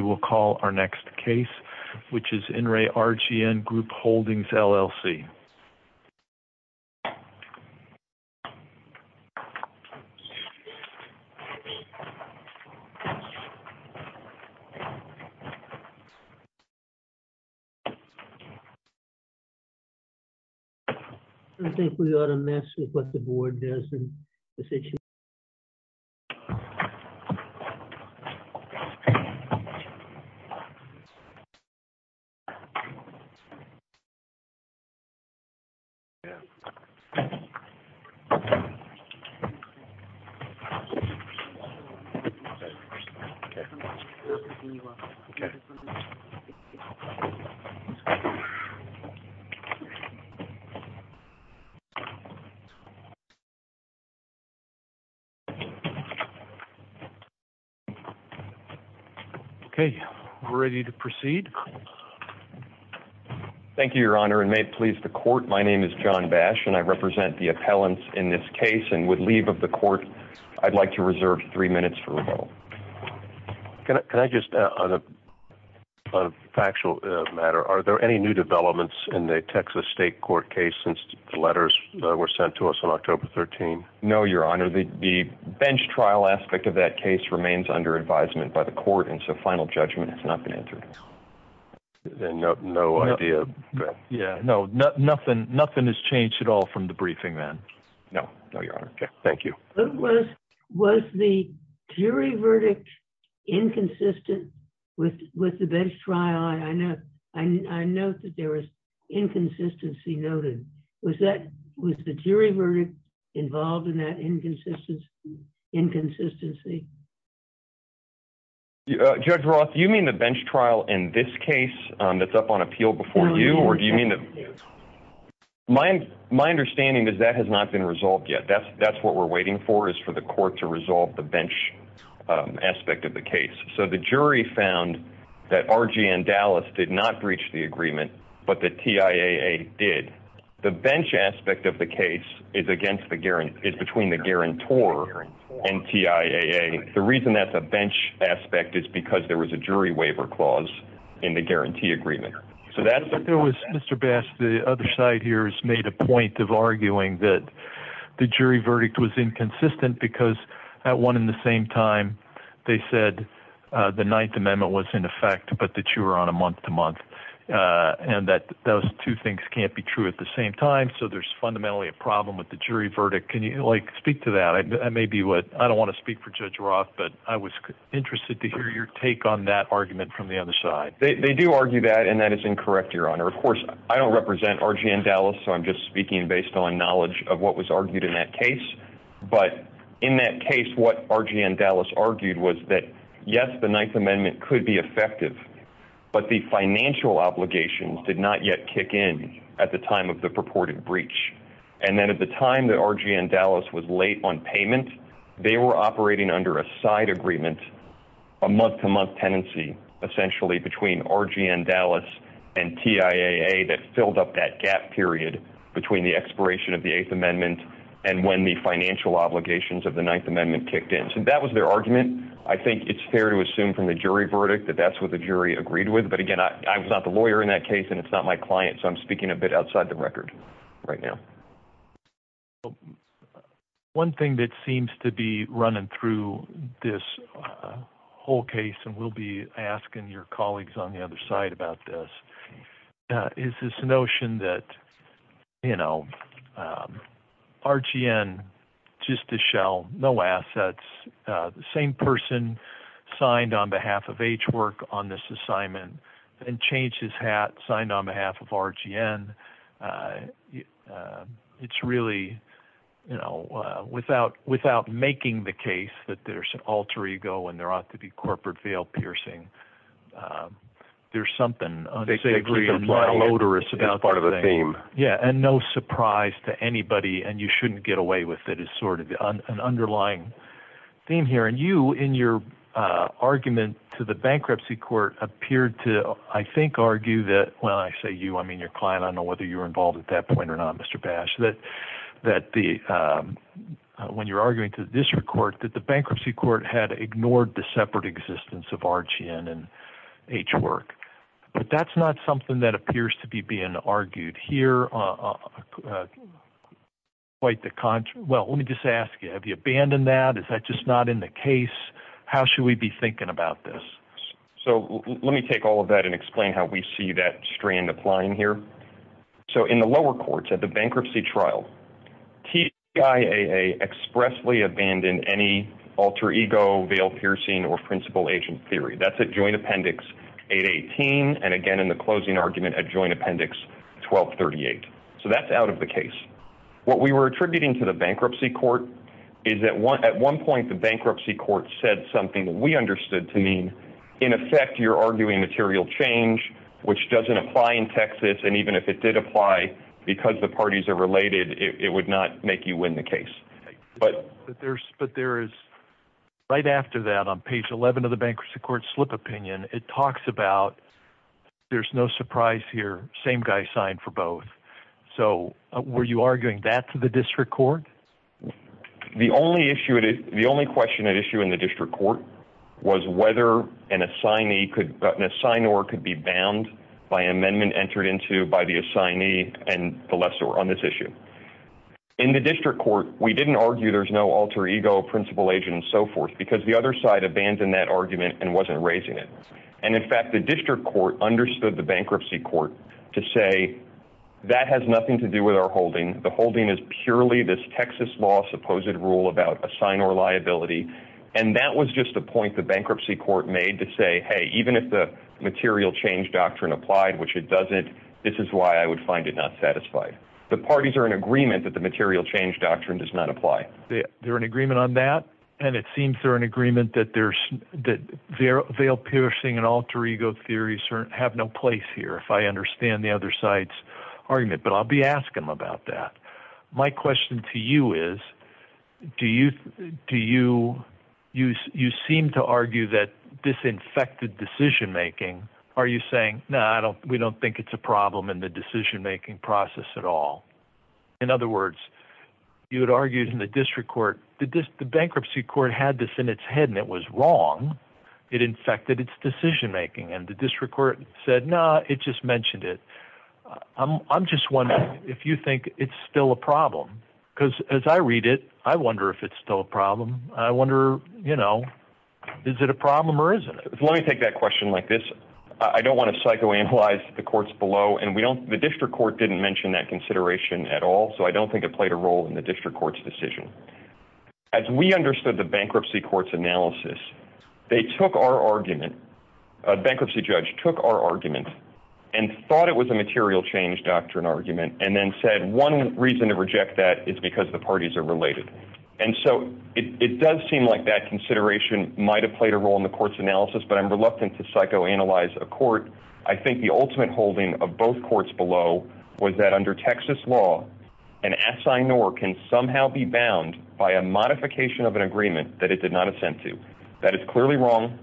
We will call our next case, which is In Re RGN Group Holdings, LLC. I think we ought to mess with what the board does in this issue. I think we ought to mess with what the board does in this issue. Okay, we're ready to proceed. Thank you, Your Honor, and may it please the court, my name is John Bash, and I represent the appellants in this case, and with leave of the court, I'd like to reserve three minutes for rebuttal. Can I just, on a factual matter, are there any new developments in the Texas State Court case since the letters were sent to us on October 13? No, Your Honor, the bench trial aspect of that case remains under advisement by the court, and so final judgment has not been entered. No idea. Yeah, no, nothing has changed at all from the briefing then. No, Your Honor. Thank you. Was the jury verdict inconsistent with the bench trial? I note that there was inconsistency noted. Was the jury verdict involved in that inconsistency? Judge Roth, do you mean the bench trial in this case that's up on appeal before you, or do you mean the... My understanding is that has not been resolved yet. That's what we're waiting for, is for the court to resolve the bench aspect of the case. So the jury found that R.G. and Dallas did not breach the agreement, but the TIAA did. The bench aspect of the case is between the guarantor and TIAA. The reason that's a bench aspect is because there was a jury waiver clause in the guarantee agreement. So that's... There was, Mr. Bass, the other side here has made a point of arguing that the jury verdict was inconsistent because at one and the same time, they said the Ninth Amendment was in effect, but that you were on a month-to-month, and that those two things can't be true at the same time. So there's fundamentally a problem with the jury verdict. Can you speak to that? I don't want to speak for Judge Roth, but I was interested to hear your take on that argument from the other side. They do argue that, and that is incorrect, Your Honor. Of course, I don't represent R.G. and Dallas, so I'm just speaking based on knowledge of what was argued in that case. But in that case, what R.G. and Dallas argued was that, yes, the Ninth Amendment could be effective, but the financial obligations did not yet kick in at the time of the purported breach. And then at the time that R.G. and Dallas was late on payment, they were operating under a side agreement, a month-to-month tenancy, essentially, between R.G. and Dallas and TIAA that filled up that gap period between the expiration of the Eighth Amendment and when the financial obligations of the Ninth Amendment kicked in. So that was their argument. I think it's fair to assume from the jury verdict that that's what the jury agreed with. But again, I was not the lawyer in that case, and it's not my client, so I'm speaking a bit outside the record right now. One thing that seems to be running through this whole case, and we'll be asking your is this notion that, you know, R.G.N., just a shell, no assets, the same person signed on behalf of H. Work on this assignment and changed his hat, signed on behalf of R.G.N. It's really, you know, without making the case that there's an alter ego and there ought Yeah, and no surprise to anybody, and you shouldn't get away with it, is sort of an underlying theme here. And you, in your argument to the bankruptcy court, appeared to, I think, argue that... Well, I say you. I mean your client. I don't know whether you were involved at that point or not, Mr. Bash. When you're arguing to the district court, that the bankruptcy court had ignored the separate existence of R.G.N. and H. Work. But that's not something that appears to be being argued here. Quite the contrary. Well, let me just ask you, have you abandoned that? Is that just not in the case? How should we be thinking about this? So let me take all of that and explain how we see that strand applying here. So in the lower courts, at the bankruptcy trial, TIAA expressly abandoned any alter ego, veil piercing, or principal agent theory. That's at joint appendix 818, and again, in the closing argument, at joint appendix 1238. So that's out of the case. What we were attributing to the bankruptcy court is that at one point, the bankruptcy court said something that we understood to mean, in effect, you're arguing material change, which doesn't apply in Texas, and even if it did apply, because the parties are related, it would not make you win the case. But there is, right after that, on page 11 of the bankruptcy court slip opinion, it talks about there's no surprise here, same guy signed for both. So were you arguing that to the district court? The only issue, the only question at issue in the district court was whether an assignee could, an assignor could be bound by amendment entered into by the assignee and the lessor on this issue. In the district court, we didn't argue there's no alter ego, principal agent, and so forth, because the other side abandoned that argument and wasn't raising it. And in fact, the district court understood the bankruptcy court to say, that has nothing to do with our holding. The holding is purely this Texas law supposed rule about assignor liability. And that was just a point the bankruptcy court made to say, hey, even if the material change doctrine applied, which it doesn't, this is why I would find it not satisfied. The parties are in agreement that the material change doctrine does not apply. They're in agreement on that. And it seems they're in agreement that there's, that veil piercing and alter ego theories have no place here, if I understand the other side's argument. But I'll be asking them about that. My question to you is, do you, do you, you seem to argue that disinfected decision making, are you saying, no, I don't, we don't think it's a problem in the decision making process at all? In other words, you had argued in the district court, did this, the bankruptcy court had this in its head and it was wrong. It infected its decision making and the district court said, nah, it just mentioned it. I'm just wondering if you think it's still a problem, because as I read it, I wonder if it's still a problem. I wonder, you know, is it a problem or isn't it? Let me take that question like this. I don't want to psychoanalyze the courts below and we don't, the district court didn't mention that consideration at all, so I don't think it played a role in the district court's decision. As we understood the bankruptcy court's analysis, they took our argument, a bankruptcy judge took our argument and thought it was a material change doctrine argument and then said one reason to reject that is because the parties are related. And so it does seem like that consideration might've played a role in the court's analysis, I think the ultimate holding of both courts below was that under Texas law, an assignor can somehow be bound by a modification of an agreement that it did not assent to. That is clearly wrong.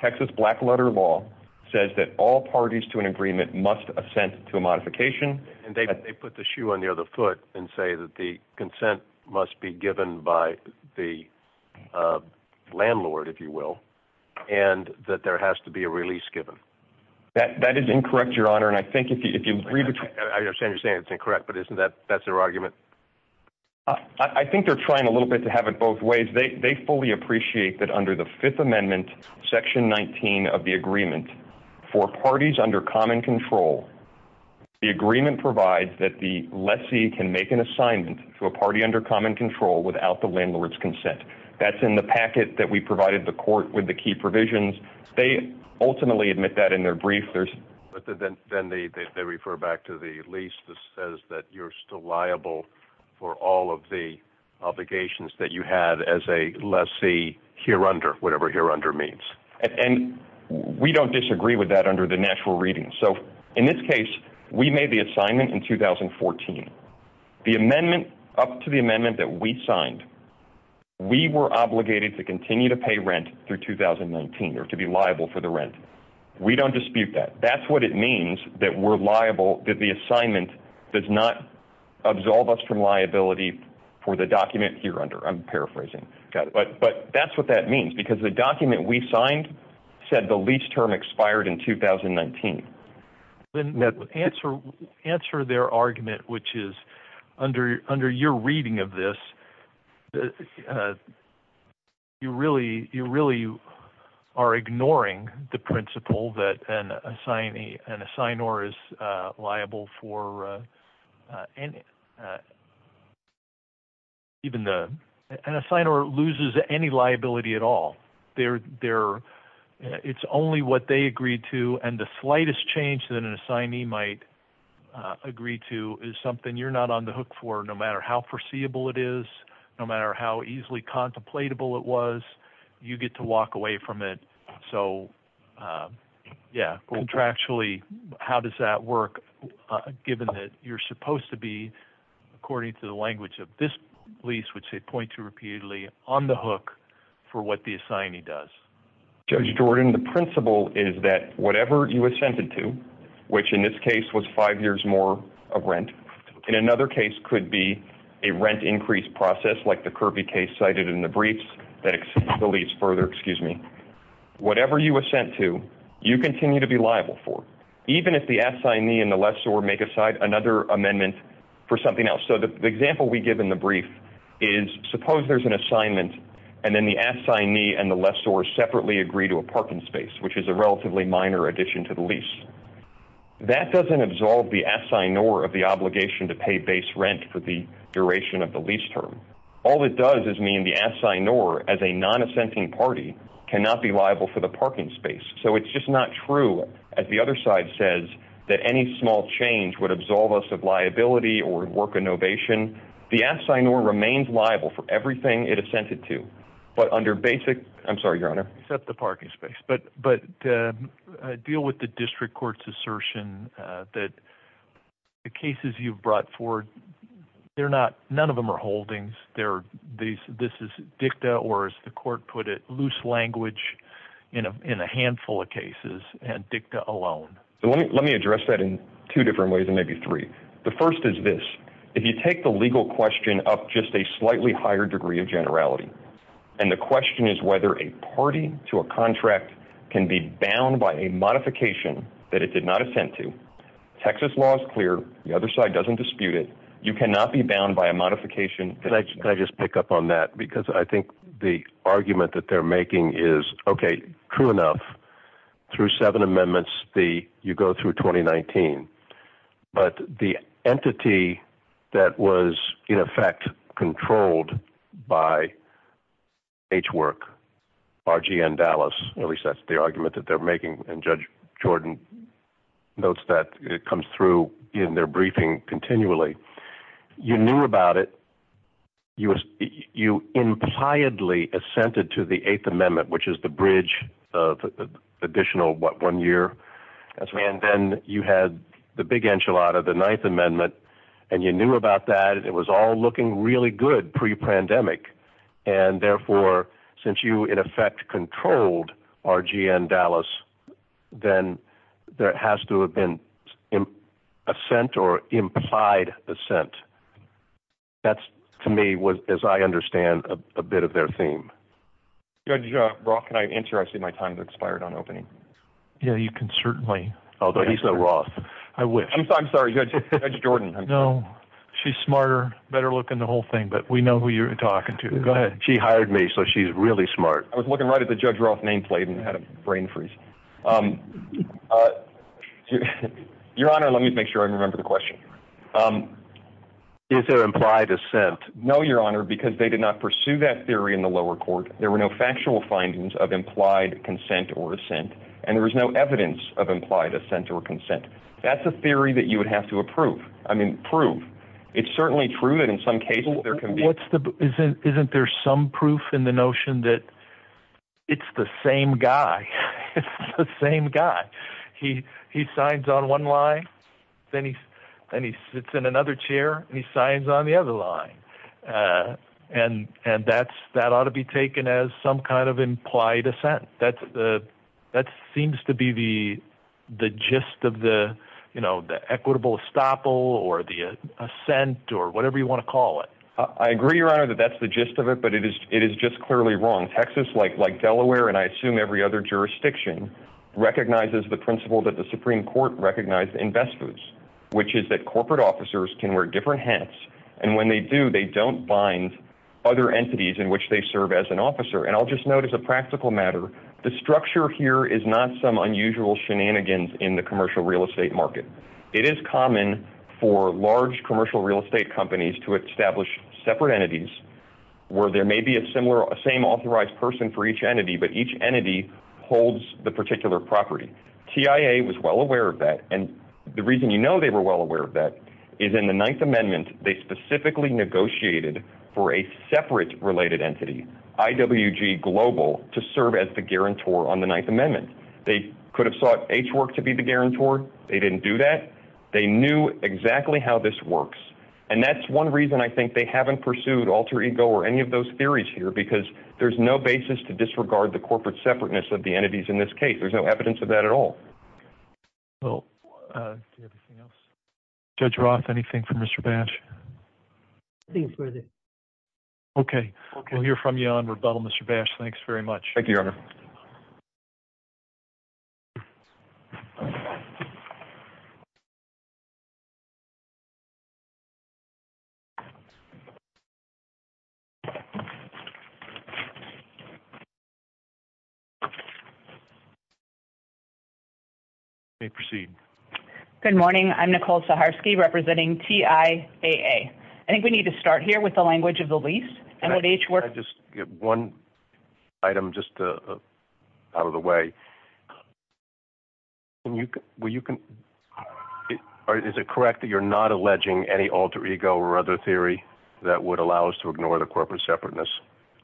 Texas black letter law says that all parties to an agreement must assent to a modification. And they put the shoe on the other foot and say that the consent must be given by the landlord, if you will, and that there has to be a release given. That is incorrect, your honor. And I think if you read it, I understand you're saying it's incorrect, but isn't that, that's their argument? I think they're trying a little bit to have it both ways. They fully appreciate that under the fifth amendment, section 19 of the agreement for parties under common control, the agreement provides that the lessee can make an assignment to a party under common control without the landlord's consent. That's in the packet that we provided the court with the key provisions. They ultimately admit that in their brief, there's, but then, then they, they refer back to the lease that says that you're still liable for all of the obligations that you had as a lessee here under whatever here under means. And we don't disagree with that under the natural reading. So in this case, we made the assignment in 2014, the amendment up to the amendment that we signed, we were obligated to continue to pay rent through 2019, or to be liable for the rent. We don't dispute that. That's what it means that we're liable, that the assignment does not absolve us from liability for the document here under I'm paraphrasing, but, but that's what that means because the document we signed said the lease term expired in 2019. Answer, answer their argument, which is under, under your reading of this, you really, you really are ignoring the principle that an assignee and assign or is liable for even the, and assign or loses any liability at all. They're, they're, it's only what they agreed to. And the slightest change that an assignee might agree to is something you're not on the hook for no matter how foreseeable it is, no matter how easily contemplatable it was, you get to walk away from it. So yeah, contractually, how does that work, given that you're supposed to be according to the language of this lease, which they point to repeatedly on the hook for what the assignee does? Judge Jordan, the principle is that whatever you assented to, which in this case was five years more of rent in another case could be a rent increase process like the Kirby case cited in the briefs that the lease further, excuse me, whatever you were sent to, you continue to be liable for, even if the assignee and the lessor make aside another amendment for something else. So the example we give in the brief is suppose there's an assignment and then the assignee and the lessor separately agree to a parking space, which is a relatively minor addition to the lease. That doesn't absolve the assignee of the obligation to pay base rent for the duration of the lease term. All it does is mean the assignee as a non-assenting party cannot be liable for the parking space. So it's just not true, as the other side says, that any small change would absolve us of liability or work innovation. The assignor remains liable for everything it assented to, but under basic, I'm sorry, your honor. Except the parking space. But deal with the district court's assertion that the cases you've brought forward, none of them are holdings. This is dicta, or as the court put it, loose language in a handful of cases and dicta alone. Let me address that in two different ways and maybe three. The first is this. If you take the legal question up just a slightly higher degree of generality, and the question is whether a party to a contract can be bound by a modification that it did not assent to, Texas law is clear, the other side doesn't dispute it. You cannot be bound by a modification. Can I just pick up on that? Because I think the argument that they're making is, okay, true enough, through seven amendments you go through 2019. But the entity that was in effect controlled by H Work, RGN Dallas, at least that's the argument that they're making. And Judge Jordan notes that it comes through in their briefing continually. You knew about it. You impliedly assented to the eighth amendment, which is the bridge of additional, what, one year? And then you had the big enchilada, the ninth amendment, and you knew about that. It was all looking really good pre-pandemic. And therefore, since you, in effect, controlled RGN Dallas, then there has to have been assent or implied assent. That's to me, as I understand, a bit of their theme. Judge Brock, can I answer? I see my time has expired on opening. Yeah, you can certainly. Although he's so rough. I wish. I'm sorry, Judge Jordan. No, she's smarter, better looking, the whole thing. But we know who you're talking to. Go ahead. She hired me, so she's really smart. I was looking right at the Judge Roth nameplate and had a brain freeze. Your Honor, let me make sure I remember the question. Is there implied assent? No, Your Honor, because they did not pursue that theory in the lower court. There were no factual findings of implied consent or assent, and there was no evidence of implied assent or consent. That's a theory that you would have to approve. I mean, prove. It's certainly true that in some cases there can be... Isn't there some proof in the notion that it's the same guy? It's the same guy. He signs on one line, then he sits in another chair, and he signs on the other line. And that ought to be taken as some kind of implied assent. That seems to be the gist of the equitable estoppel or the assent or whatever you want to call it. I agree, Your Honor, that that's the gist of it, but it is just clearly wrong. Texas, like Delaware and I assume every other jurisdiction, recognizes the principle that the Supreme Court recognized in best foods, which is that corporate officers can wear different hats, and when they do, they don't bind other entities in which they serve as an officer. And I'll just note as a practical matter, the structure here is not some unusual shenanigans in the commercial real estate market. It is common for large commercial real estate companies to establish separate entities where there may be a same authorized person for each entity, but each entity holds the particular property. TIA was well aware of that, and the reason you know they were well aware of that is in the Ninth Amendment, they specifically negotiated for a separate related entity, IWG Global, to serve as the guarantor on the Ninth Amendment. They could have sought H Work to be the guarantor. They didn't do that. They knew exactly how this works, and that's one reason I think they haven't pursued alter ego or any of those theories here, because there's no basis to disregard the corporate separateness of the entities in this case. There's no evidence of that at all. Well, do we have anything else? Judge Roth, anything from Mr. Bash? Nothing further. Okay. Okay. We'll hear from you on rebuttal, Mr. Bash. Thanks very much. Thank you, Your Honor. You may proceed. Good morning. I'm Nicole Saharsky, representing TIAA. I think we need to start here with the language of the lease, and with H Work. Can I just get one item just out of the way? Can you – will you – is it correct that you're not alleging any alter ego or other theory that would allow us to ignore the corporate separateness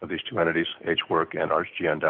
of these two entities, H Work and RG&D?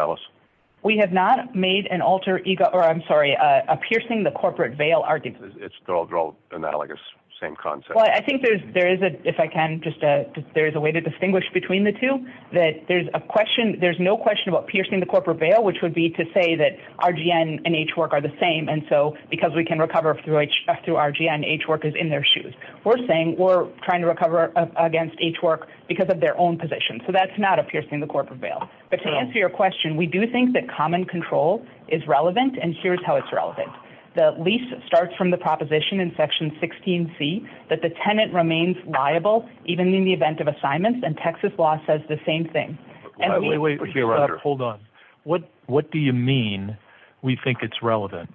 We have not made an alter ego – or, I'm sorry, a piercing the corporate veil argument. They're all analogous. Same concept. Well, I think there is a – if I can just – there is a way to distinguish between the two, that there's a question – there's no question about piercing the corporate veil, which would be to say that RG&D and H Work are the same, and so, because we can recover through RG&D and H Work is in their shoes. We're saying we're trying to recover against H Work because of their own position. So that's not a piercing the corporate veil. But to answer your question, we do think that common control is relevant, and here's how it's relevant. The lease starts from the proposition in Section 16C that the tenant remains liable even in the event of assignments, and Texas law says the same thing. Wait, wait, wait, hold on. What do you mean, we think it's relevant?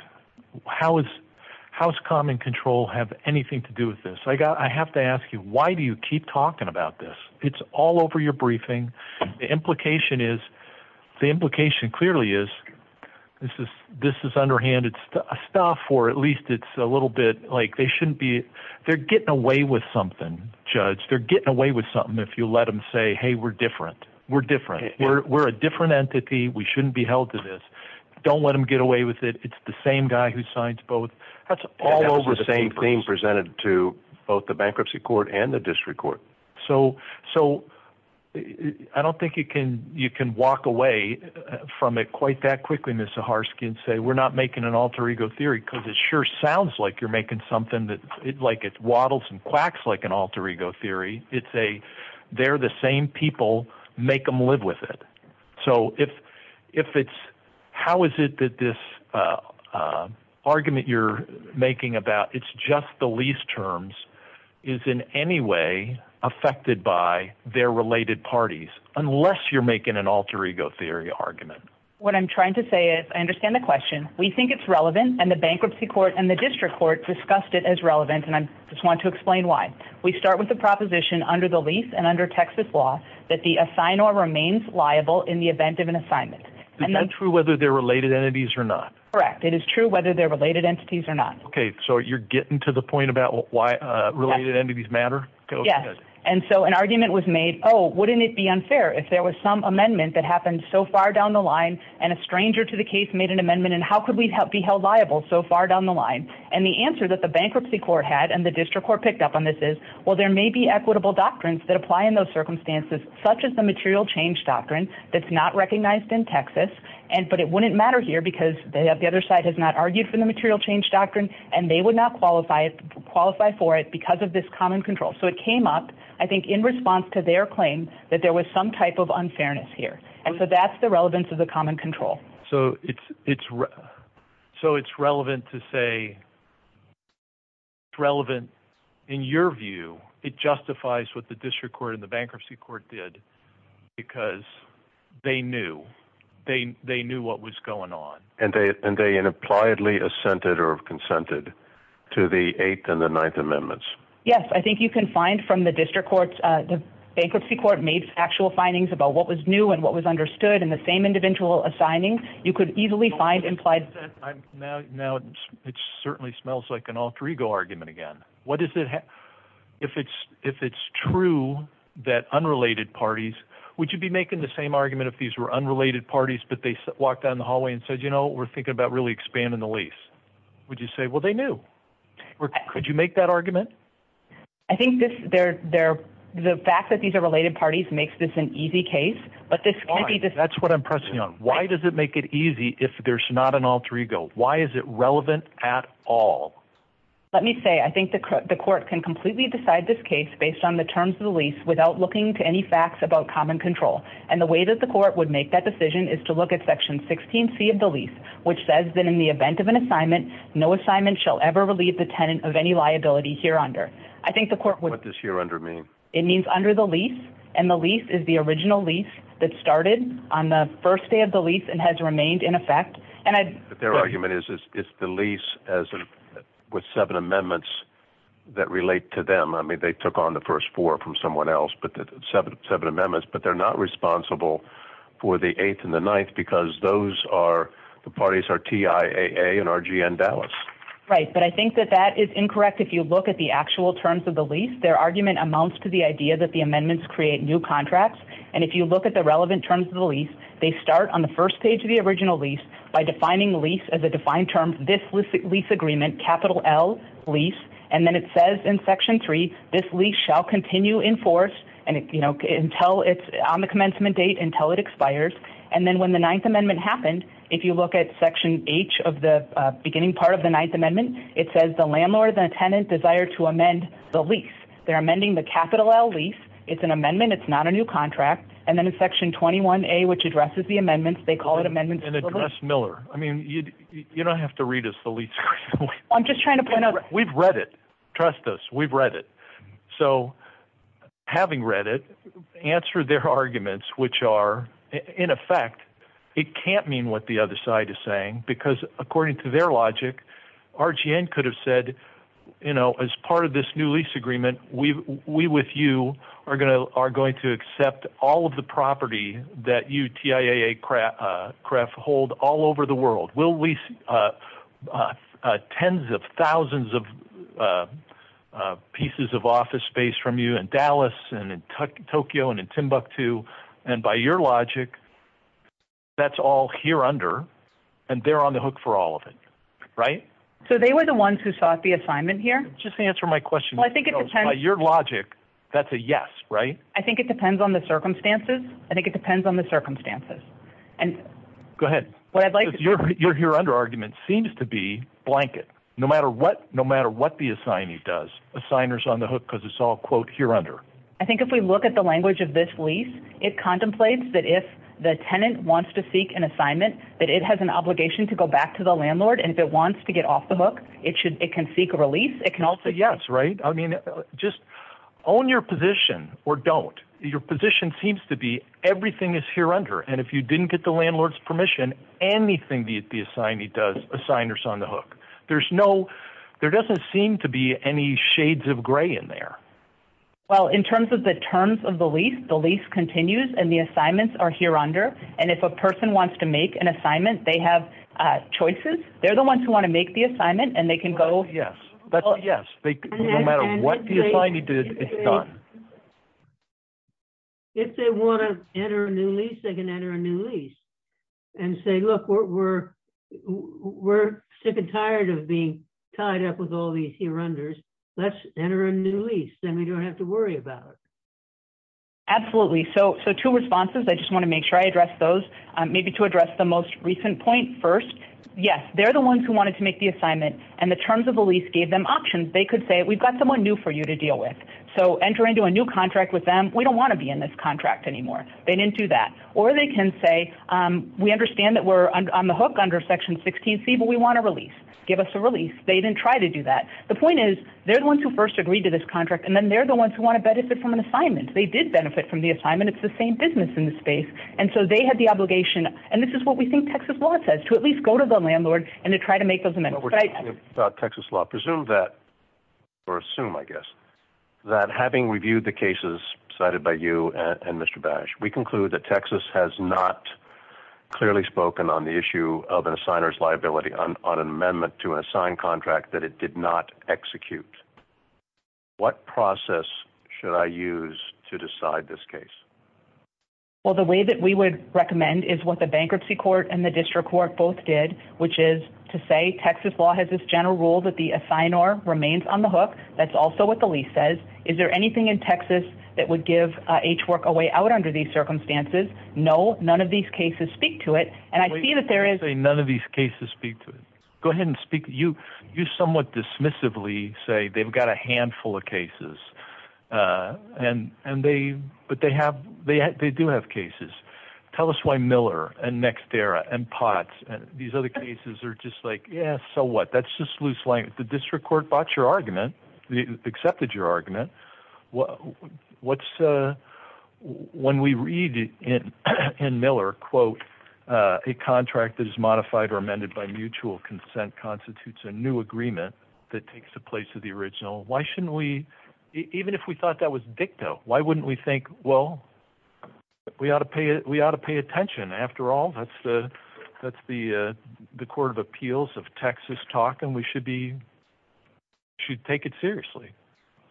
How is – how does common control have anything to do with this? I have to ask you, why do you keep talking about this? It's all over your briefing. The implication is – the implication clearly is this is underhanded stuff, or at least it's a little bit like they shouldn't be – they're getting away with something, Judge. They're getting away with something if you let them say, hey, we're different. We're different. We're a different entity. We shouldn't be held to this. Don't let them get away with it. It's the same guy who signs both. That's all over the papers. That's the same thing presented to both the bankruptcy court and the district court. So I don't think you can walk away from it quite that quickly, Ms. Zaharsky, and say we're not making an alter ego theory because it sure sounds like you're making something that – like it waddles and quacks like an alter ego theory. It's a – they're the same people. Make them live with it. So if it's – how is it that this argument you're making about it's just the least is in any way affected by their related parties unless you're making an alter ego theory argument? What I'm trying to say is I understand the question. We think it's relevant and the bankruptcy court and the district court discussed it as relevant and I just want to explain why. We start with the proposition under the lease and under Texas law that the assignor remains liable in the event of an assignment. Is that true whether they're related entities or not? Correct. It is true whether they're related entities or not. Okay. So you're getting to the point about why related entities matter? Yes. And so an argument was made, oh, wouldn't it be unfair if there was some amendment that happened so far down the line and a stranger to the case made an amendment and how could we be held liable so far down the line? And the answer that the bankruptcy court had and the district court picked up on this is, well, there may be equitable doctrines that apply in those circumstances such as the material change doctrine that's not recognized in Texas, but it wouldn't matter here because the other side has not argued for the material change doctrine and they would not qualify for it because of this common control. So it came up, I think, in response to their claim that there was some type of unfairness here. And so that's the relevance of the common control. So it's relevant to say, it's relevant in your view, it justifies what the district court and the bankruptcy court did because they knew. They knew what was going on. And they unimpliedly assented or consented to the eighth and the ninth amendments. Yes, I think you can find from the district courts, the bankruptcy court made actual findings about what was new and what was understood in the same individual assigning. You could easily find implied. Now, it certainly smells like an alter ego argument again. What is it? If it's if it's true that unrelated parties, would you be making the same argument if these were unrelated parties, but they walked down the hallway and said, you know, we're thinking about really expanding the lease? Would you say, well, they knew? Could you make that argument? I think that they're there. The fact that these are related parties makes this an easy case. But that's what I'm pressing on. Why does it make it easy if there's not an alter ego? Why is it relevant at all? Let me say, I think the court can completely decide this case based on the terms of the lease without looking to any facts about common control. And the way that the court would make that decision is to look at Section 16 C of the lease, which says that in the event of an assignment, no assignment shall ever relieve the tenant of any liability here under. I think the court would this year under me. It means under the lease. And the lease is the original lease that started on the first day of the lease and has remained in effect. And their argument is, is the lease as with seven amendments that relate to them. I mean, they took on the first four from someone else, but seven, seven amendments. But they're not responsible for the eighth and the ninth because those are the parties are TIA and RGN Dallas. Right. But I think that that is incorrect. If you look at the actual terms of the lease, their argument amounts to the idea that the amendments create new contracts. And if you look at the relevant terms of the lease, they start on the first page of the original lease by defining lease as a defined term. This was the lease agreement, capital L lease. And then it says in Section three, this lease shall continue in force. And, you know, until it's on the commencement date, until it expires. And then when the Ninth Amendment happened, if you look at Section H of the beginning part of the Ninth Amendment, it says the landlord, the tenant desire to amend the lease. They're amending the capital L lease. It's an amendment. It's not a new contract. And then in Section 21A, which addresses the amendments, they call it amendments. And address Miller. I mean, you don't have to read us the lease. I'm just trying to point out. We've read it. Trust us. We've read it. So having read it, answer their arguments, which are, in effect, it can't mean what the other side is saying, because according to their logic, RGN could have said, you know, as part of this new lease agreement, we with you are going to accept all of the property that you TIAA CREF hold all over the world. We'll lease tens of thousands of pieces of office space from you in Dallas and in Tokyo and in Timbuktu. And by your logic, that's all here under. And they're on the hook for all of it. Right. So they were the ones who sought the assignment here. Just answer my question. I think it depends. By your logic, that's a yes. Right. I think it depends on the circumstances. I think it depends on the circumstances. And go ahead. Your here under argument seems to be blanket. No matter what the assignee does, the signer's on the hook because it's all, quote, here under. I think if we look at the language of this lease, it contemplates that if the tenant wants to seek an assignment, that it has an obligation to go back to the landlord. And if it wants to get off the hook, it can seek a release. It can also. Yes. Right. I mean, just own your position or don't. Your position seems to be everything is here under. And if you didn't get the landlord's permission, anything the assignee does, the signer's on the hook. There's no, there doesn't seem to be any shades of gray in there. Well, in terms of the terms of the lease, the lease continues and the assignments are here under. And if a person wants to make an assignment, they have choices. They're the ones who want to make the assignment and they can go. Yes. No matter what the assignee did, it's done. If they want to enter a new lease, they can enter a new lease and say, look, we're sick and tired of being tied up with all these here unders. Let's enter a new lease. Then we don't have to worry about it. Absolutely. So, so two responses, I just want to make sure I address those maybe to address the most recent point first. Yes. They're the ones who wanted to make the assignment and the terms of the lease gave them options. They could say, we've got someone new for you to deal with. So enter into a new contract with them. We don't want to be in this contract anymore. They didn't do that. Or they can say, we understand that we're on the hook under section 16C, but we want to release. Give us a release. They didn't try to do that. The point is, they're the ones who first agreed to this contract and then they're the ones who want to benefit from an assignment. They did benefit from the assignment. It's the same business in the space. And so they had the obligation. And this is what we think Texas law says, to at least go to the landlord and to try to make those amendments. What we're saying about Texas law, presume that or assume, I guess, that having reviewed the cases cited by you and Mr. Bash, we conclude that Texas has not clearly spoken on the issue of an assigner's liability on an amendment to an assigned contract that it did not execute. What process should I use to decide this case? Well, the way that we would recommend is what the bankruptcy court and the district court both did, which is to say, Texas law has this general rule that the assignor remains on the hook. That's also what the lease says. Is there anything in Texas that would give H Work a way out under these circumstances? No. None of these cases speak to it. And I see that there is- Wait. Don't say none of these cases speak to it. Go ahead and speak. You somewhat dismissively say they've got a handful of cases, but they do have cases. Tell us why Miller and Nexterra and Potts and these other cases are just like, yeah, so what? That's just loose language. The district court bought your argument, accepted your argument. When we read in Miller, quote, a contract that is modified or amended by mutual consent constitutes a new agreement that takes the place of the original, why shouldn't we, even if we thought that was dicto, why wouldn't we think, well, we ought to pay attention. After all, that's the court of appeals of Texas talk, and we should take it seriously.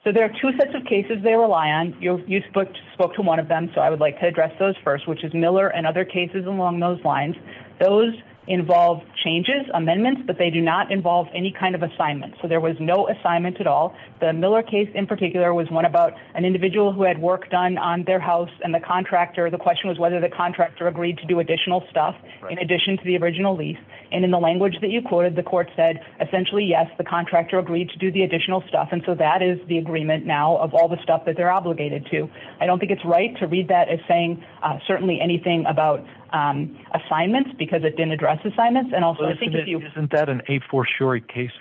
So there are two sets of cases they rely on. You spoke to one of them, so I would like to address those first, which is Miller and other cases along those lines. Those involve changes, amendments, but they do not involve any kind of assignment. So there was no assignment at all. The Miller case in particular was one about an individual who had work done on their house and the contractor. The question was whether the contractor agreed to do additional stuff in addition to the original lease. And in the language that you quoted, the court said, essentially, yes, the contractor agreed to do the additional stuff, and so that is the agreement now of all the stuff that they're obligated to. I don't think it's right to read that as saying certainly anything about assignments because it didn't address assignments. Isn't that an a-for-sure case,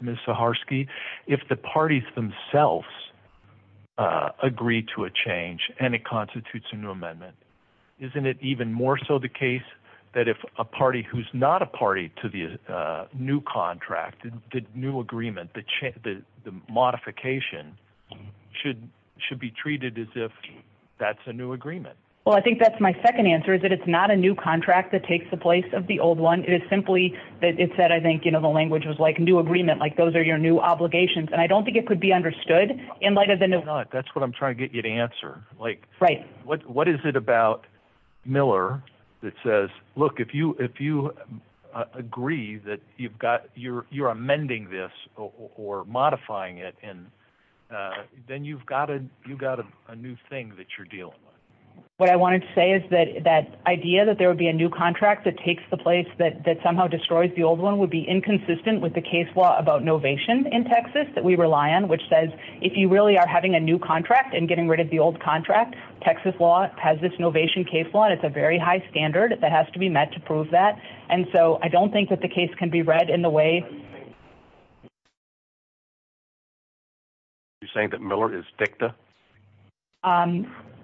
Ms. Saharsky? If the parties themselves agree to a change and it constitutes a new amendment, isn't it even more so the case that if a party who's not a party to the new contract, the new agreement, the modification, should be treated as if that's a new agreement? Well, I think that's my second answer, is that it's not a new contract that takes the old one. It is simply that it said, I think, you know, the language was like new agreement, like those are your new obligations. And I don't think it could be understood in light of the new one. That's what I'm trying to get you to answer. What is it about Miller that says, look, if you agree that you're amending this or modifying it, then you've got a new thing that you're dealing with. What I wanted to say is that that idea that there would be a new contract that takes the place that somehow destroys the old one would be inconsistent with the case law about novation in Texas that we rely on, which says, if you really are having a new contract and getting rid of the old contract, Texas law has this novation case law, and it's a very high standard that has to be met to prove that. And so I don't think that the case can be read in the way... Are you saying that Miller is dicta?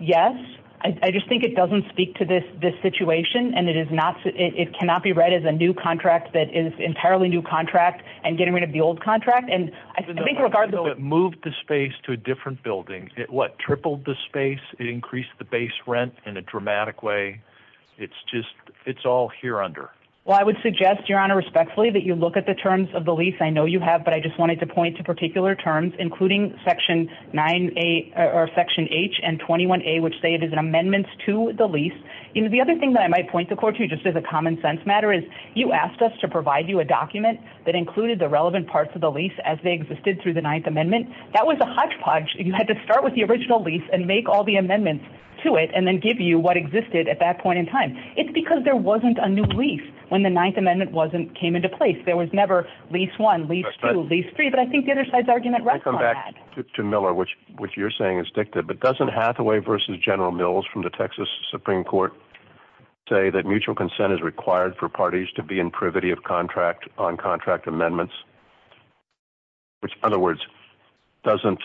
Yes. I just think it doesn't speak to this situation. And it cannot be read as a new contract that is entirely new contract and getting rid of the old contract. And I think... It moved the space to a different building. It what? Tripled the space. It increased the base rent in a dramatic way. It's just, it's all here under. Well, I would suggest, Your Honor, respectfully, that you look at the terms of the lease. I know you have, but I just wanted to point to particular terms, including Section H and 21A, which say it is an amendment to the lease. The other thing that I might point the court to, just as a common sense matter, is you asked us to provide you a document that included the relevant parts of the lease as they existed through the Ninth Amendment. That was a hodgepodge. You had to start with the original lease and make all the amendments to it, and then give you what existed at that point in time. It's because there wasn't a new lease when the Ninth Amendment came into place. There was never lease one, lease two, lease three, but I think the other side's argument rests on that. Can I come back to Miller, which you're saying is dictated, but doesn't Hathaway versus General Mills from the Texas Supreme Court say that mutual consent is required for parties to be in privity of contract on contract amendments, which, in other words, doesn't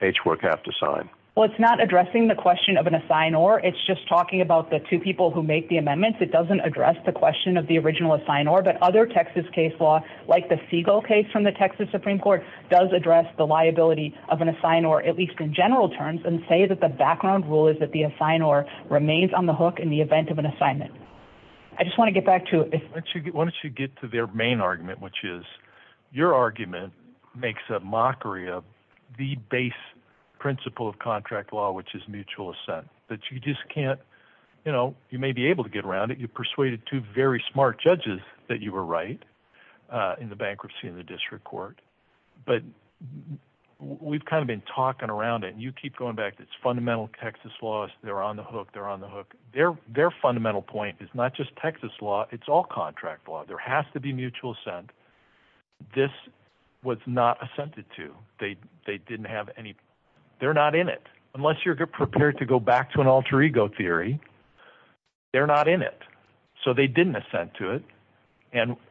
H work have to sign? Well, it's not addressing the question of an assignor. It's just talking about the two people who make the amendments. It doesn't address the question of the original assignor, but other Texas case law, like the Segal case from the Texas Supreme Court, does address the liability of an assignor, at least in general terms, and say that the background rule is that the assignor remains on the hook in the event of an assignment. I just want to get back to... Why don't you get to their main argument, which is your argument makes a mockery of the base principle of contract law, which is mutual assent, that you just can't... You may be able to get around it. You persuaded two very smart judges that you were right in the bankruptcy in the district court, but we've kind of been talking around it, and you keep going back to it's fundamental Texas laws. They're on the hook. They're on the hook. Their fundamental point is not just Texas law. It's all contract law. There has to be mutual assent. This was not assented to. They didn't have any... They're not in it, unless you're prepared to go back to an all alter ego theory. They're not in it, so they didn't assent to it.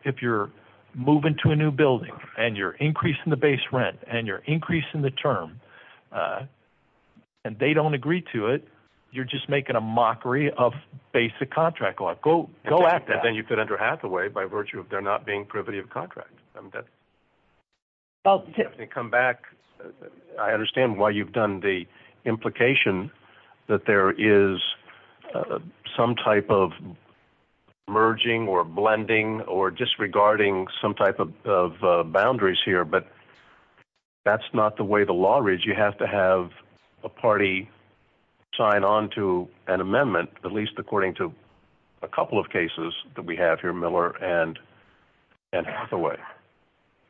If you're moving to a new building, and you're increasing the base rent, and you're increasing the term, and they don't agree to it, you're just making a mockery of basic contract law. Go at that. Then you could enter Hathaway by virtue of there not being privity of contract. I understand why you've done the implication that there is some type of merging, or blending, or disregarding some type of boundaries here, but that's not the way the law is. You have to have a party sign on to an amendment, at least according to a couple of cases that Hathaway.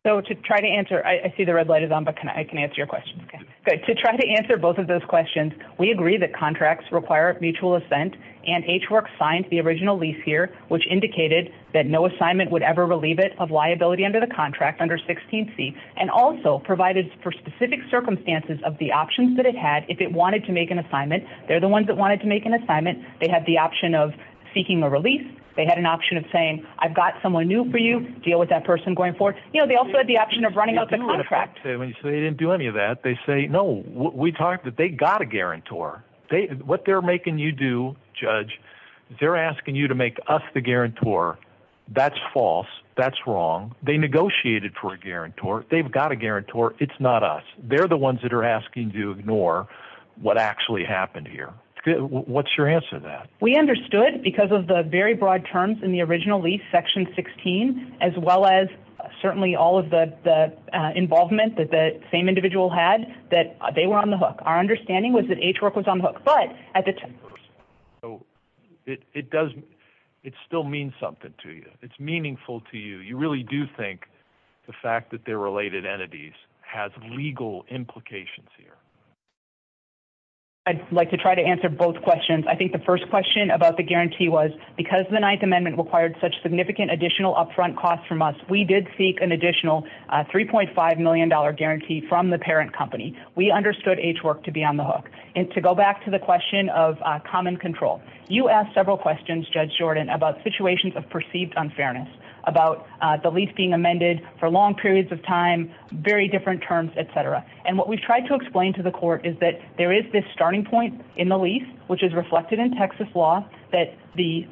To try to answer... I see the red light is on, but I can answer your question. Okay. To try to answer both of those questions, we agree that contracts require mutual assent, and H-Works signed the original lease here, which indicated that no assignment would ever relieve it of liability under the contract, under 16C, and also provided for specific circumstances of the options that it had if it wanted to make an assignment. They're the ones that wanted to make an assignment. They had the option of seeking a release. They had an option of saying, I've got someone new for you. Deal with that person going forward. They also had the option of running out the contract. They didn't do any of that. They say, no, we talked that they got a guarantor. What they're making you do, Judge, they're asking you to make us the guarantor. That's false. That's wrong. They negotiated for a guarantor. They've got a guarantor. It's not us. They're the ones that are asking to ignore what actually happened here. What's your answer to that? We understood, because of the very broad terms in the original lease, Section 16, as well as certainly all of the involvement that the same individual had, that they were on the hook. Our understanding was that H-Work was on the hook. But at the time... So it still means something to you. It's meaningful to you. You really do think the fact that they're related entities has legal implications here. I'd like to try to answer both questions. I think the first question about the guarantee was, because the Ninth Amendment required such significant additional upfront costs from us, we did seek an additional $3.5 million guarantee from the parent company. We understood H-Work to be on the hook. To go back to the question of common control, you asked several questions, Judge Jordan, about situations of perceived unfairness, about the lease being amended for long periods of time, very different terms, et cetera. What we've tried to explain to the court is that there is this starting point in the lease, which is reflected in Texas law, that the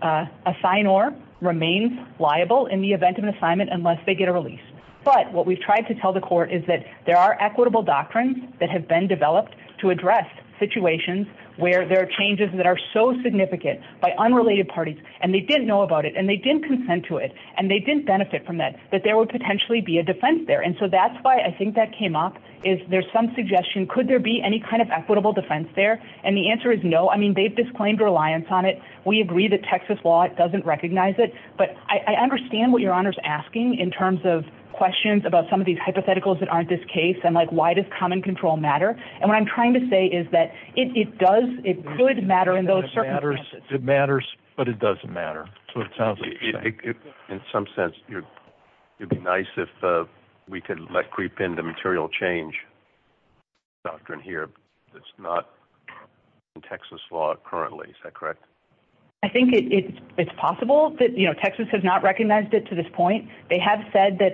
assignor remains liable in the event of an assignment unless they get a release. But what we've tried to tell the court is that there are equitable doctrines that have been developed to address situations where there are changes that are so significant by unrelated parties, and they didn't know about it, and they didn't consent to it, and they didn't benefit from that, that there would potentially be a defense there. And so that's why I think that came up is there's some suggestion, could there be any kind of equitable defense there? And the answer is no. I mean, they've disclaimed reliance on it. We agree that Texas law doesn't recognize it. But I understand what Your Honor's asking in terms of questions about some of these hypotheticals that aren't this case, and like, why does common control matter? And what I'm trying to say is that it does, it could matter in those circumstances. It matters, but it doesn't matter. So it sounds like you're saying. In some sense, it would be nice if we could let creep into material change doctrine here that's not in Texas law currently. Is that correct? I think it's possible that, you know, Texas has not recognized it to this point. They have said that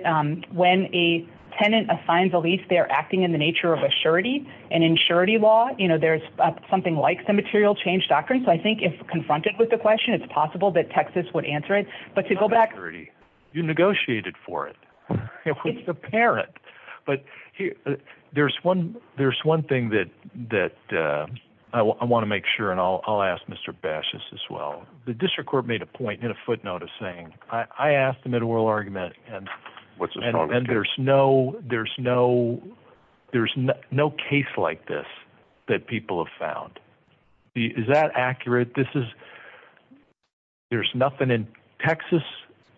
when a tenant assigns a lease, they're acting in the nature of a surety. And in surety law, you know, there's something like the material change doctrine. So I think if confronted with the question, it's possible that Texas would answer it. But to go back. It's not a surety. You negotiated for it. It's apparent. But there's one thing that I want to make sure, and I'll ask Mr. Bashes as well. The district court made a point in a footnote of saying, I asked the middle world argument. And there's no case like this that people have found. Is that accurate? This is, there's nothing in Texas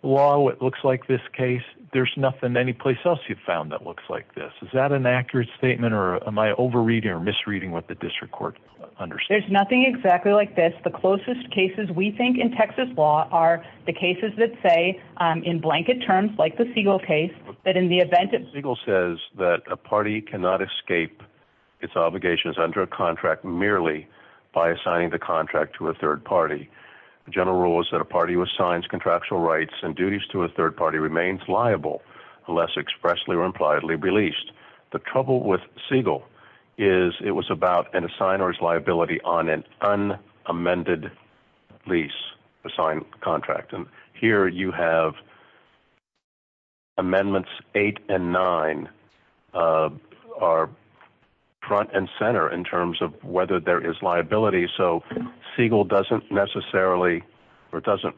law. It looks like this case. There's nothing any place else you've found that looks like this. Is that an accurate statement or am I over reading or misreading what the district court understands? There's nothing exactly like this. The closest cases we think in Texas law are the cases that say in blanket terms, like the Siegel case, that in the event that Siegel says that a party cannot escape its obligations under a contract merely by assigning the contract to a third party, the general rule is that a third party is liable unless expressly or impliedly released. The trouble with Siegel is it was about an assigner's liability on an unamended lease assigned contract. And here you have amendments eight and nine are front and center in terms of whether there is liability. So Siegel doesn't necessarily or doesn't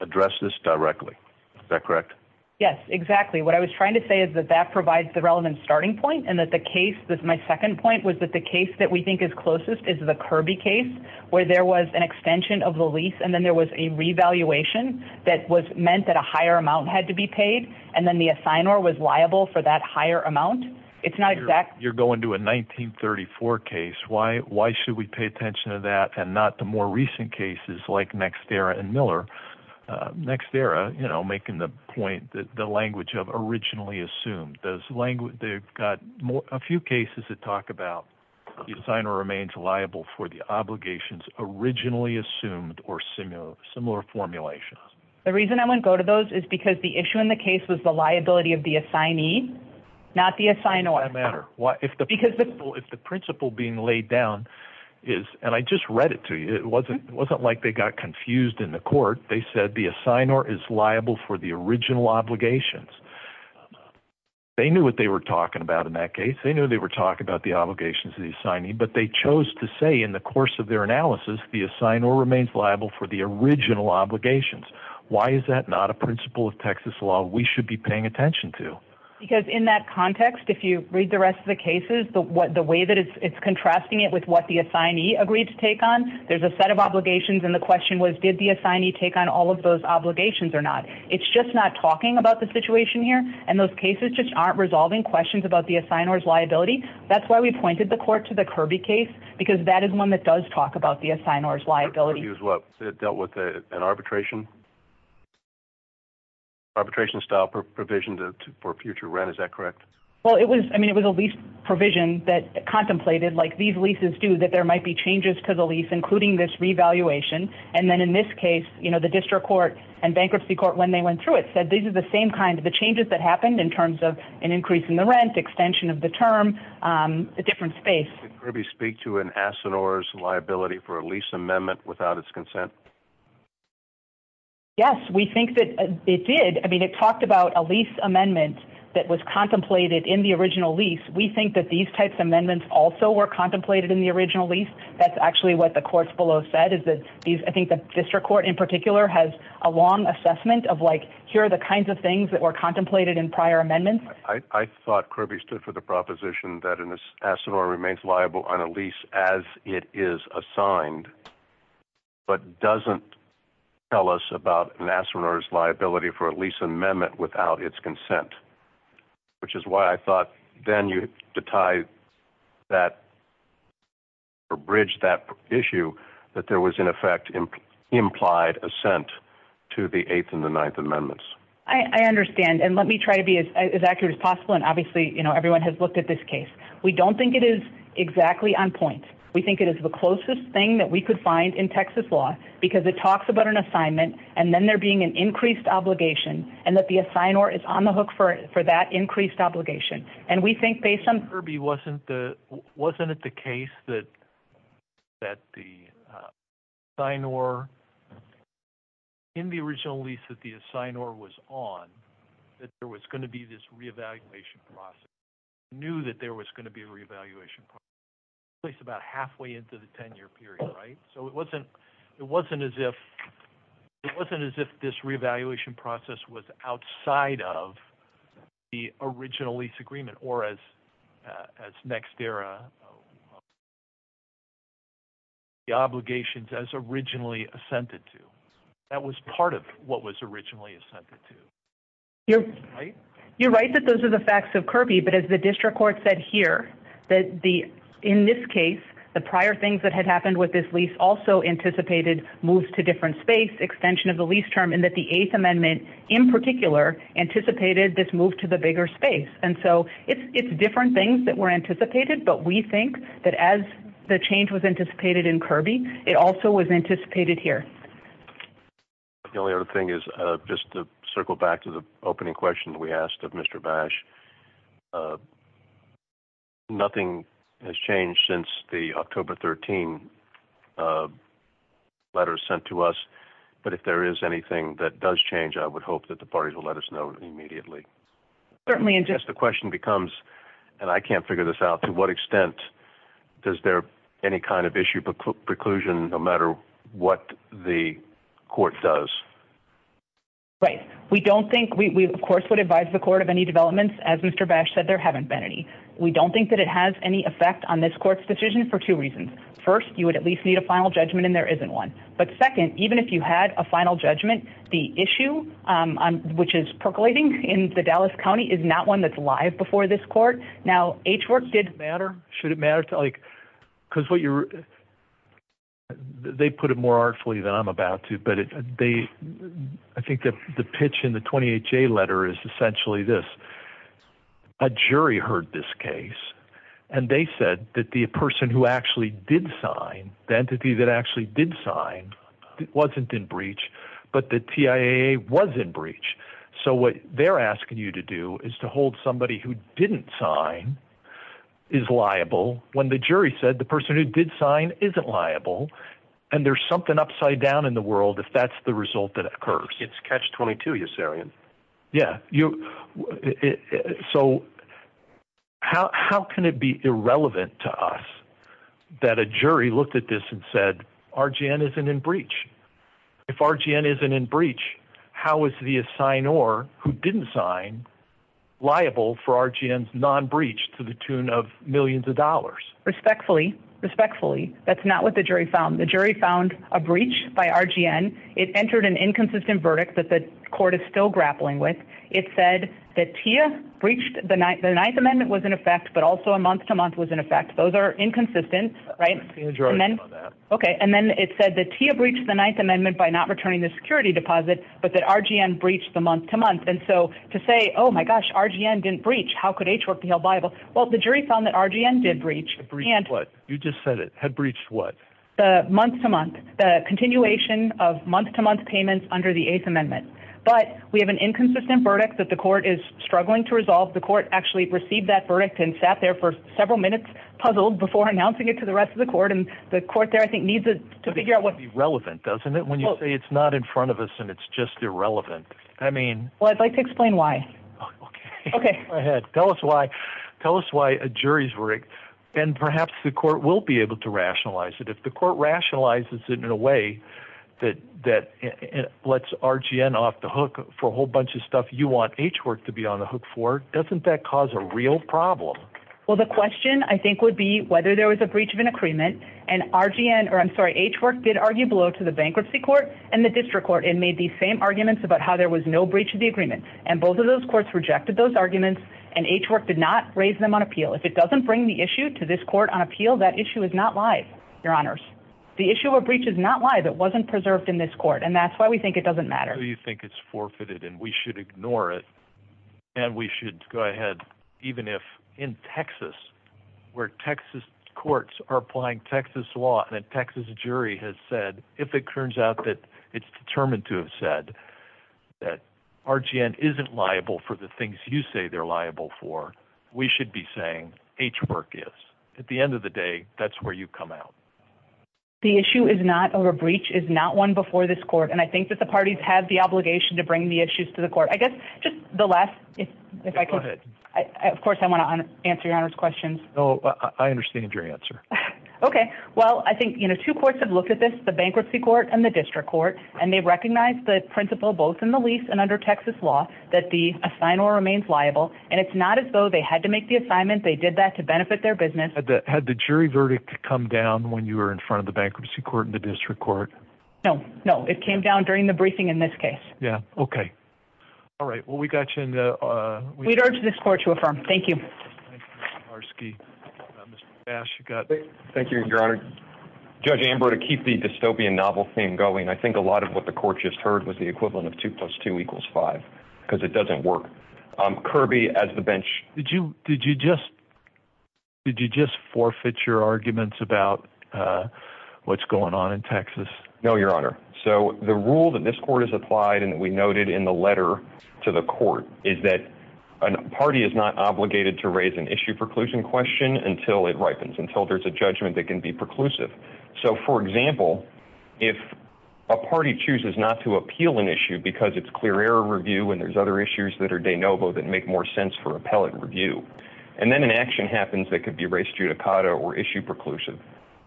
address this directly. Is that correct? Yes, exactly. What I was trying to say is that that provides the relevant starting point and that the case that my second point was that the case that we think is closest is the Kirby case where there was an extension of the lease. And then there was a revaluation that was meant that a higher amount had to be paid. And then the assigner was liable for that higher amount. It's not exact. You're going to a 1934 case. Why? Why should we pay attention to that and not the more recent cases like Nextera and the language of originally assumed those language? They've got a few cases that talk about the assigner remains liable for the obligations originally assumed or similar, similar formulations. The reason I wouldn't go to those is because the issue in the case was the liability of the assignee, not the assigner. No matter what, if the because if the principle being laid down is and I just read it to you, it wasn't it wasn't like they got confused in the court. They said the assigner is liable for the original obligations. They knew what they were talking about in that case. They knew they were talking about the obligations of the assignee, but they chose to say in the course of their analysis, the assigner remains liable for the original obligations. Why is that not a principle of Texas law we should be paying attention to? Because in that context, if you read the rest of the cases, the way that it's contrasting it with what the assignee agreed to take on, there's a set of obligations. And the question was, did the assignee take on all of those obligations or not? It's just not talking about the situation here. And those cases just aren't resolving questions about the assigners liability. That's why we pointed the court to the Kirby case, because that is one that does talk about the assigners liability. He was what dealt with an arbitration. Arbitration style provisions for future rent. Is that correct? Well, it was I mean, it was at least provision that contemplated like these leases do that there might be changes to the lease, including this revaluation. And then in this case, you know, the district court and bankruptcy court, when they went through it said, these are the same kind of the changes that happened in terms of an increase in the rent extension of the term, um, a different space. Kirby speak to an assigners liability for a lease amendment without its consent. Yes, we think that it did. I mean, it talked about a lease amendment that was contemplated in the original lease. We think that these types of amendments also were contemplated in the original lease. That's actually what the courts below said is that these, I think the district court in particular has a long assessment of like, here are the kinds of things that were contemplated in prior amendments. I thought Kirby stood for the proposition that an assigner remains liable on a lease as it is assigned, but doesn't tell us about an assigners liability for a lease amendment without its consent. Which is why I thought then you tie that or bridge that issue that there was in effect implied assent to the eighth and the ninth amendments. I understand. And let me try to be as accurate as possible. And obviously, you know, everyone has looked at this case. We don't think it is exactly on point. We think it is the closest thing that we could find in Texas law because it talks about an assignment and then there being an increased obligation and that the sign or is on the hook for, for that increased obligation. And we think based on Kirby wasn't the, wasn't it the case that, that the sign or in the original lease that the sign or was on, that there was going to be this reevaluation process knew that there was going to be a reevaluation place about halfway into the 10 year period, right? So it wasn't, it wasn't as if it wasn't as if this reevaluation process was outside of the original lease agreement or as, as next era, the obligations as originally assented to. That was part of what was originally assented to. You're right. You're right. That those are the facts of Kirby, but as the district court said here, that the, in this case, the prior things that had happened with this lease also anticipated moves to different space extension of the lease term and that the eighth amendment in particular anticipated this move to the bigger space. And so it's, it's different things that were anticipated, but we think that as the change was anticipated in Kirby, it also was anticipated here. The only other thing is just to circle back to the opening question that we asked of Mr. Bash, uh, nothing has changed since the October 13, uh, letters sent to us. But if there is anything that does change, I would hope that the parties will let us know immediately. Certainly. And just the question becomes, and I can't figure this out to what extent does there any kind of issue preclusion, no matter what the court does. Right. We don't think we, we of course would advise the court of any developments. As Mr. Bash said, there haven't been any, we don't think that it has any effect on this court's decision for two reasons. First, you would at least need a final judgment and there isn't one. But second, even if you had a final judgment, the issue, um, which is percolating in the Dallas County is not one that's live before this court. Now, H work did matter. Should it matter to like, cause what you're they put it more artfully than I'm about to, but they, I think that the pitch in the 28 J letter is essentially this. A jury heard this case and they said that the person who actually did sign the entity that actually did sign wasn't in breach, but the TIA was in breach. So what they're asking you to do is to hold somebody who didn't sign is liable when the jury said the person who did sign isn't liable and there's something upside down in the world. If that's the result that occurs, it's catch 22. Yes. Yeah. You, so how, how can it be irrelevant to us that a jury looked at this and said, RGN isn't in breach. If RGN isn't in breach, how is the assign or who didn't sign liable for RGN non-breach to the tune of millions of dollars, respectfully. Respectfully. That's not what the jury found. The jury found a breach by RGN. It entered an inconsistent verdict that the court is still grappling with. It said that Tia breached the ninth. The ninth amendment was in effect, but also a month to month was in effect. Those are inconsistent, right? Okay. And then it said that Tia breached the ninth amendment by not returning the security deposit, but that RGN breached the month to month. And so to say, oh my gosh, RGN didn't breach. How could HRTL be liable? Well, the jury found that RGN did breach. You just said it had breached what? Uh, month to month, uh, continuation of month to month payments under the eighth amendment. But we have an inconsistent verdict that the court is struggling to resolve. The court actually received that verdict and sat there for several minutes, puzzled before announcing it to the rest of the court. The court there, I think needs to figure out what's relevant. Doesn't it? When you say it's not in front of us and it's just irrelevant. I mean, well, I'd like to explain why. Okay, go ahead. Tell us why, tell us why a jury's rigged and perhaps the court will be able to rationalize it. If the court rationalizes it in a way that, that lets RGN off the hook for a whole bunch of stuff. You want H work to be on the hook for, doesn't that cause a real problem? Well, the question I think would be whether there was a breach of an agreement and RGN or I'm sorry, H work did argue below to the bankruptcy court and the district court and made the same arguments about how there was no breach of the agreement. And both of those courts rejected those arguments and H work did not raise them on appeal. If it doesn't bring the issue to this court on appeal, that issue is not live. Your honors. The issue of breach is not why that wasn't preserved in this court. And that's why we think it doesn't matter. You think it's forfeited and we should ignore it. And we should go ahead. Even if in Texas where Texas courts are applying Texas law and a Texas jury has said, if it turns out that it's determined to have said that RGN isn't liable for the things you say they're liable for, we should be saying H work is at the end of the day, that's where you come out. The issue is not over breach is not one before this court. And I think that the parties have the obligation to bring the issues to the court. I guess just the last, if I could, of course I want to answer your honors questions. Oh, I understand your answer. Okay. Well, I think, you know, two courts have looked at this, the bankruptcy court and the district court, and they recognize the principle, both in the lease and under Texas law that the assign or remains liable, and it's not as though they had to make the assignment. They did that to benefit their business. Had the jury verdict come down when you were in front of the bankruptcy court and the district court? No, no. It came down during the briefing in this case. Yeah. Okay. All right. Well, we got you in the, uh, we'd urge this court to affirm. Thank you. Our ski bash. You got it. Thank you, your honor. Judge Amber to keep the dystopian novel theme going. I think a lot of what the court just heard was the equivalent of two plus two equals five, because it doesn't work. Um, Kirby as the bench, did you, did you just, did you just forfeit your arguments about, uh, what's going on in Texas? No, your honor. So the rule that this court has applied and that we noted in the letter to the court is that a party is not obligated to raise an issue preclusion question until it ripens until there's a judgment that can be preclusive. So for example, if a party chooses not to appeal an issue because it's clear error review, and there's other issues that are de novo that make more sense for appellate review, and then an action happens that could be race judicata or issue preclusive.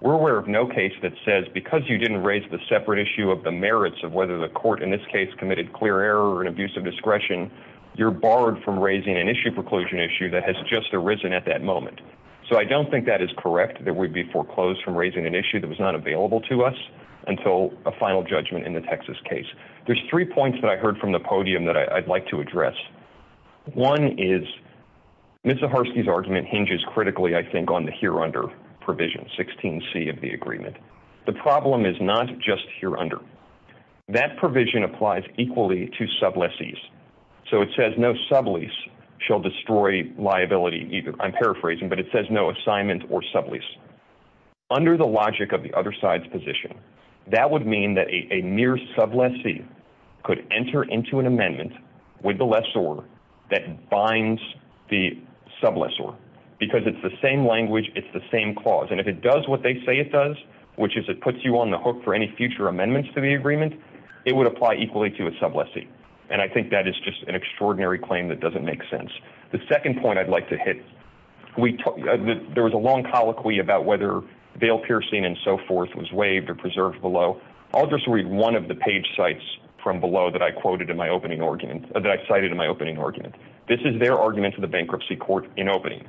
We're aware of no case that says, because you didn't raise the separate issue of the merits of whether the court in this case committed clear error and abusive discretion, you're borrowed from raising an issue preclusion issue that has just arisen at that moment. So I don't think that is correct. There would be foreclosed from raising an issue that was not available to us until a final judgment in the Texas case. There's three points that I heard from the podium that I'd like to address. One is Mr. Provision 16 C of the agreement. The problem is not just here under that provision applies equally to sub lessees. So it says no sublease shall destroy liability either. I'm paraphrasing, but it says no assignment or sublease under the logic of the other side's position. That would mean that a, a mere sub lessee could enter into an amendment with the lessor that binds the sub lessor because it's the same language. It's the same clause. And if it does what they say it does, which is, it puts you on the hook for any future amendments to the agreement, it would apply equally to a sub lessee. And I think that is just an extraordinary claim that doesn't make sense. The second point I'd like to hit, we talked, there was a long colloquy about whether bail piercing and so forth was waived or preserved below. I'll just read one of the page sites from below that I quoted in my opening argument that I cited in my opening argument. This is their argument to the bankruptcy court in opening.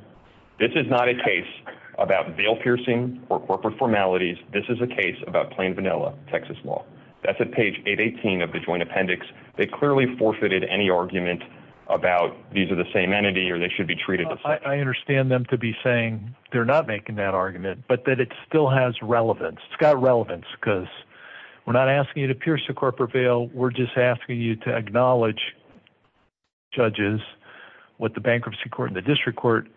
This is not a case about bail piercing or corporate formalities. This is a case about plain vanilla, Texas law. That's a page eight 18 of the joint appendix. They clearly forfeited any argument about these are the same entity or they should be treated. I understand them to be saying they're not making that argument, but that it still has relevance. It's got relevance because we're not asking you to pierce a corporate bail. We're just asking you to acknowledge. Judges what the bankruptcy court and the district court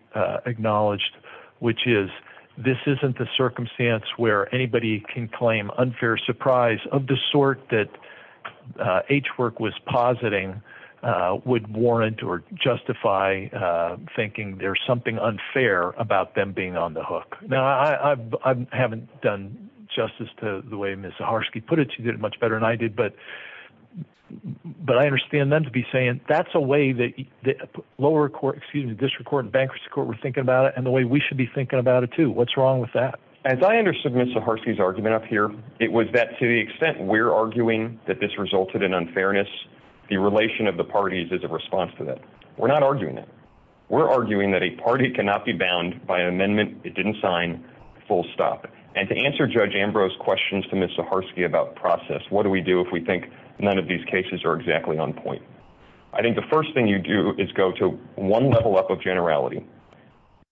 acknowledged, which is this isn't the circumstance where anybody can claim unfair surprise of the sort that, uh, H work was positing, uh, would warrant or justify, uh, thinking there's something unfair about them being on the hook. Now I I've, I haven't done justice to the way Ms. Zaharsky put it. She did it much better than I did, but, but I understand them to be saying that's a way that the lower court, excuse me, district court and bankruptcy court were thinking about it and the way we should be thinking about it too. What's wrong with that? As I understand Ms. Zaharsky's argument up here, it was that to the extent we're arguing that this resulted in unfairness. The relation of the parties is a response to that. We're not arguing that we're arguing that a party cannot be bound by an amendment. It didn't sign full stop. And to answer judge Ambrose questions to Ms. Zaharsky about process, what do we do if we think none of these cases are exactly on point? I think the first thing you do is go to one level up of generality.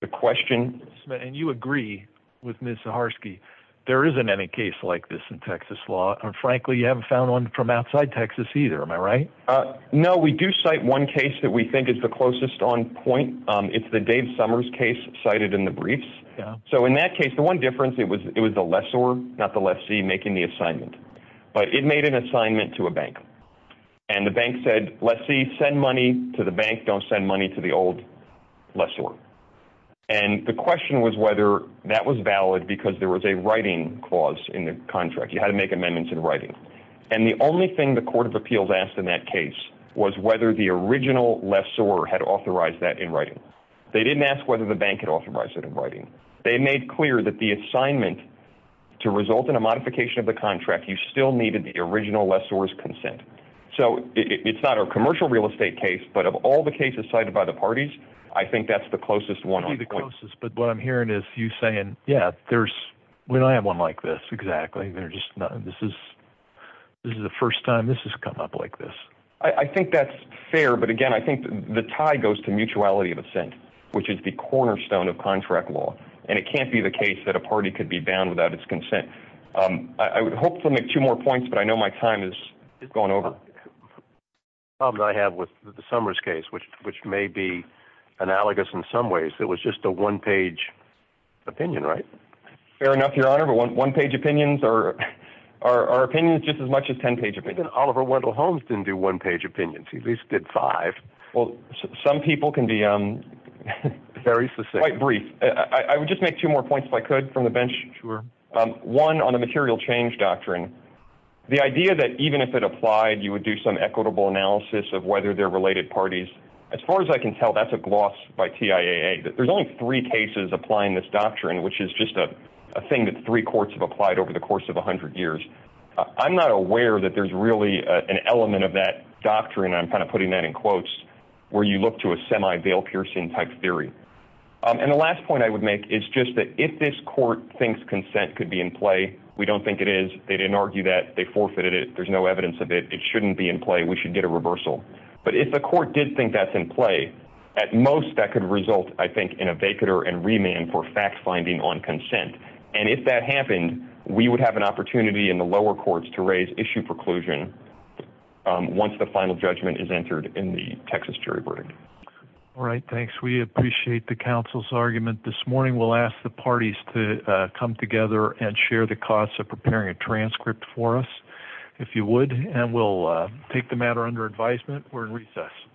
The question, and you agree with Ms. Zaharsky, there isn't any case like this in Texas law. And frankly, you haven't found one from outside Texas either. Am I right? Uh, no, we do cite one case that we think is the closest on point. Um, it's the Dave Summers case cited in the briefs. So in that case, the one difference, it was, it was the lessor, not the lessee making the assignment, but it made an assignment to a bank and the lessee send money to the bank. Don't send money to the old lessor. And the question was whether that was valid because there was a writing clause in the contract. You had to make amendments in writing. And the only thing the court of appeals asked in that case was whether the original lessor had authorized that in writing, they didn't ask whether the bank had authorized it in writing. They made clear that the assignment to result in a modification of the contract, you still needed the original lessor's consent. So it's not a commercial real estate case, but of all the cases cited by the parties, I think that's the closest one on the closest, but what I'm hearing is you saying, yeah, there's when I have one like this, exactly. They're just not, this is, this is the first time this has come up like this. I think that's fair. But again, I think the tie goes to mutuality of assent, which is the cornerstone of contract law. And it can't be the case that a party could be bound without its consent. Um, I would hope to make two more points, but I know my time is going over. Probably I have with the summer's case, which, which may be analogous in some ways, it was just a one page opinion, right? Fair enough. Your honor, but one, one page opinions are, are, are opinions just as much as 10 page opinion. Oliver Wendell Holmes didn't do one page opinions. He at least did five. Well, some people can be, um, very, very brief. I would just make two more points if I could from the bench. Sure. Um, one on a material change doctrine, the idea that even if it applied, you would do some equitable analysis of whether they're related parties. As far as I can tell, that's a gloss by TIA that there's only three cases applying this doctrine, which is just a thing that three courts have applied over the course of a hundred years. Uh, I'm not aware that there's really an element of that doctrine. I'm kind of putting that in quotes where you look to a semi bail piercing type theory. Um, and the last point I would make is just that if this court thinks consent could be in play, we don't think it is. They didn't argue that they forfeited it. There's no evidence of it. It shouldn't be in play. We should get a reversal. But if the court did think that's in play at most, that could result, I think, in a baker and remand for fact finding on consent. And if that happened, we would have an opportunity in the lower courts to raise issue preclusion once the final judgment is entered in the Texas jury. All right. Thanks. We appreciate the council's argument this morning. We'll ask the parties to come together and share the costs of preparing a transcript for us. If you would, and we'll take the matter under advisement. We're in recess.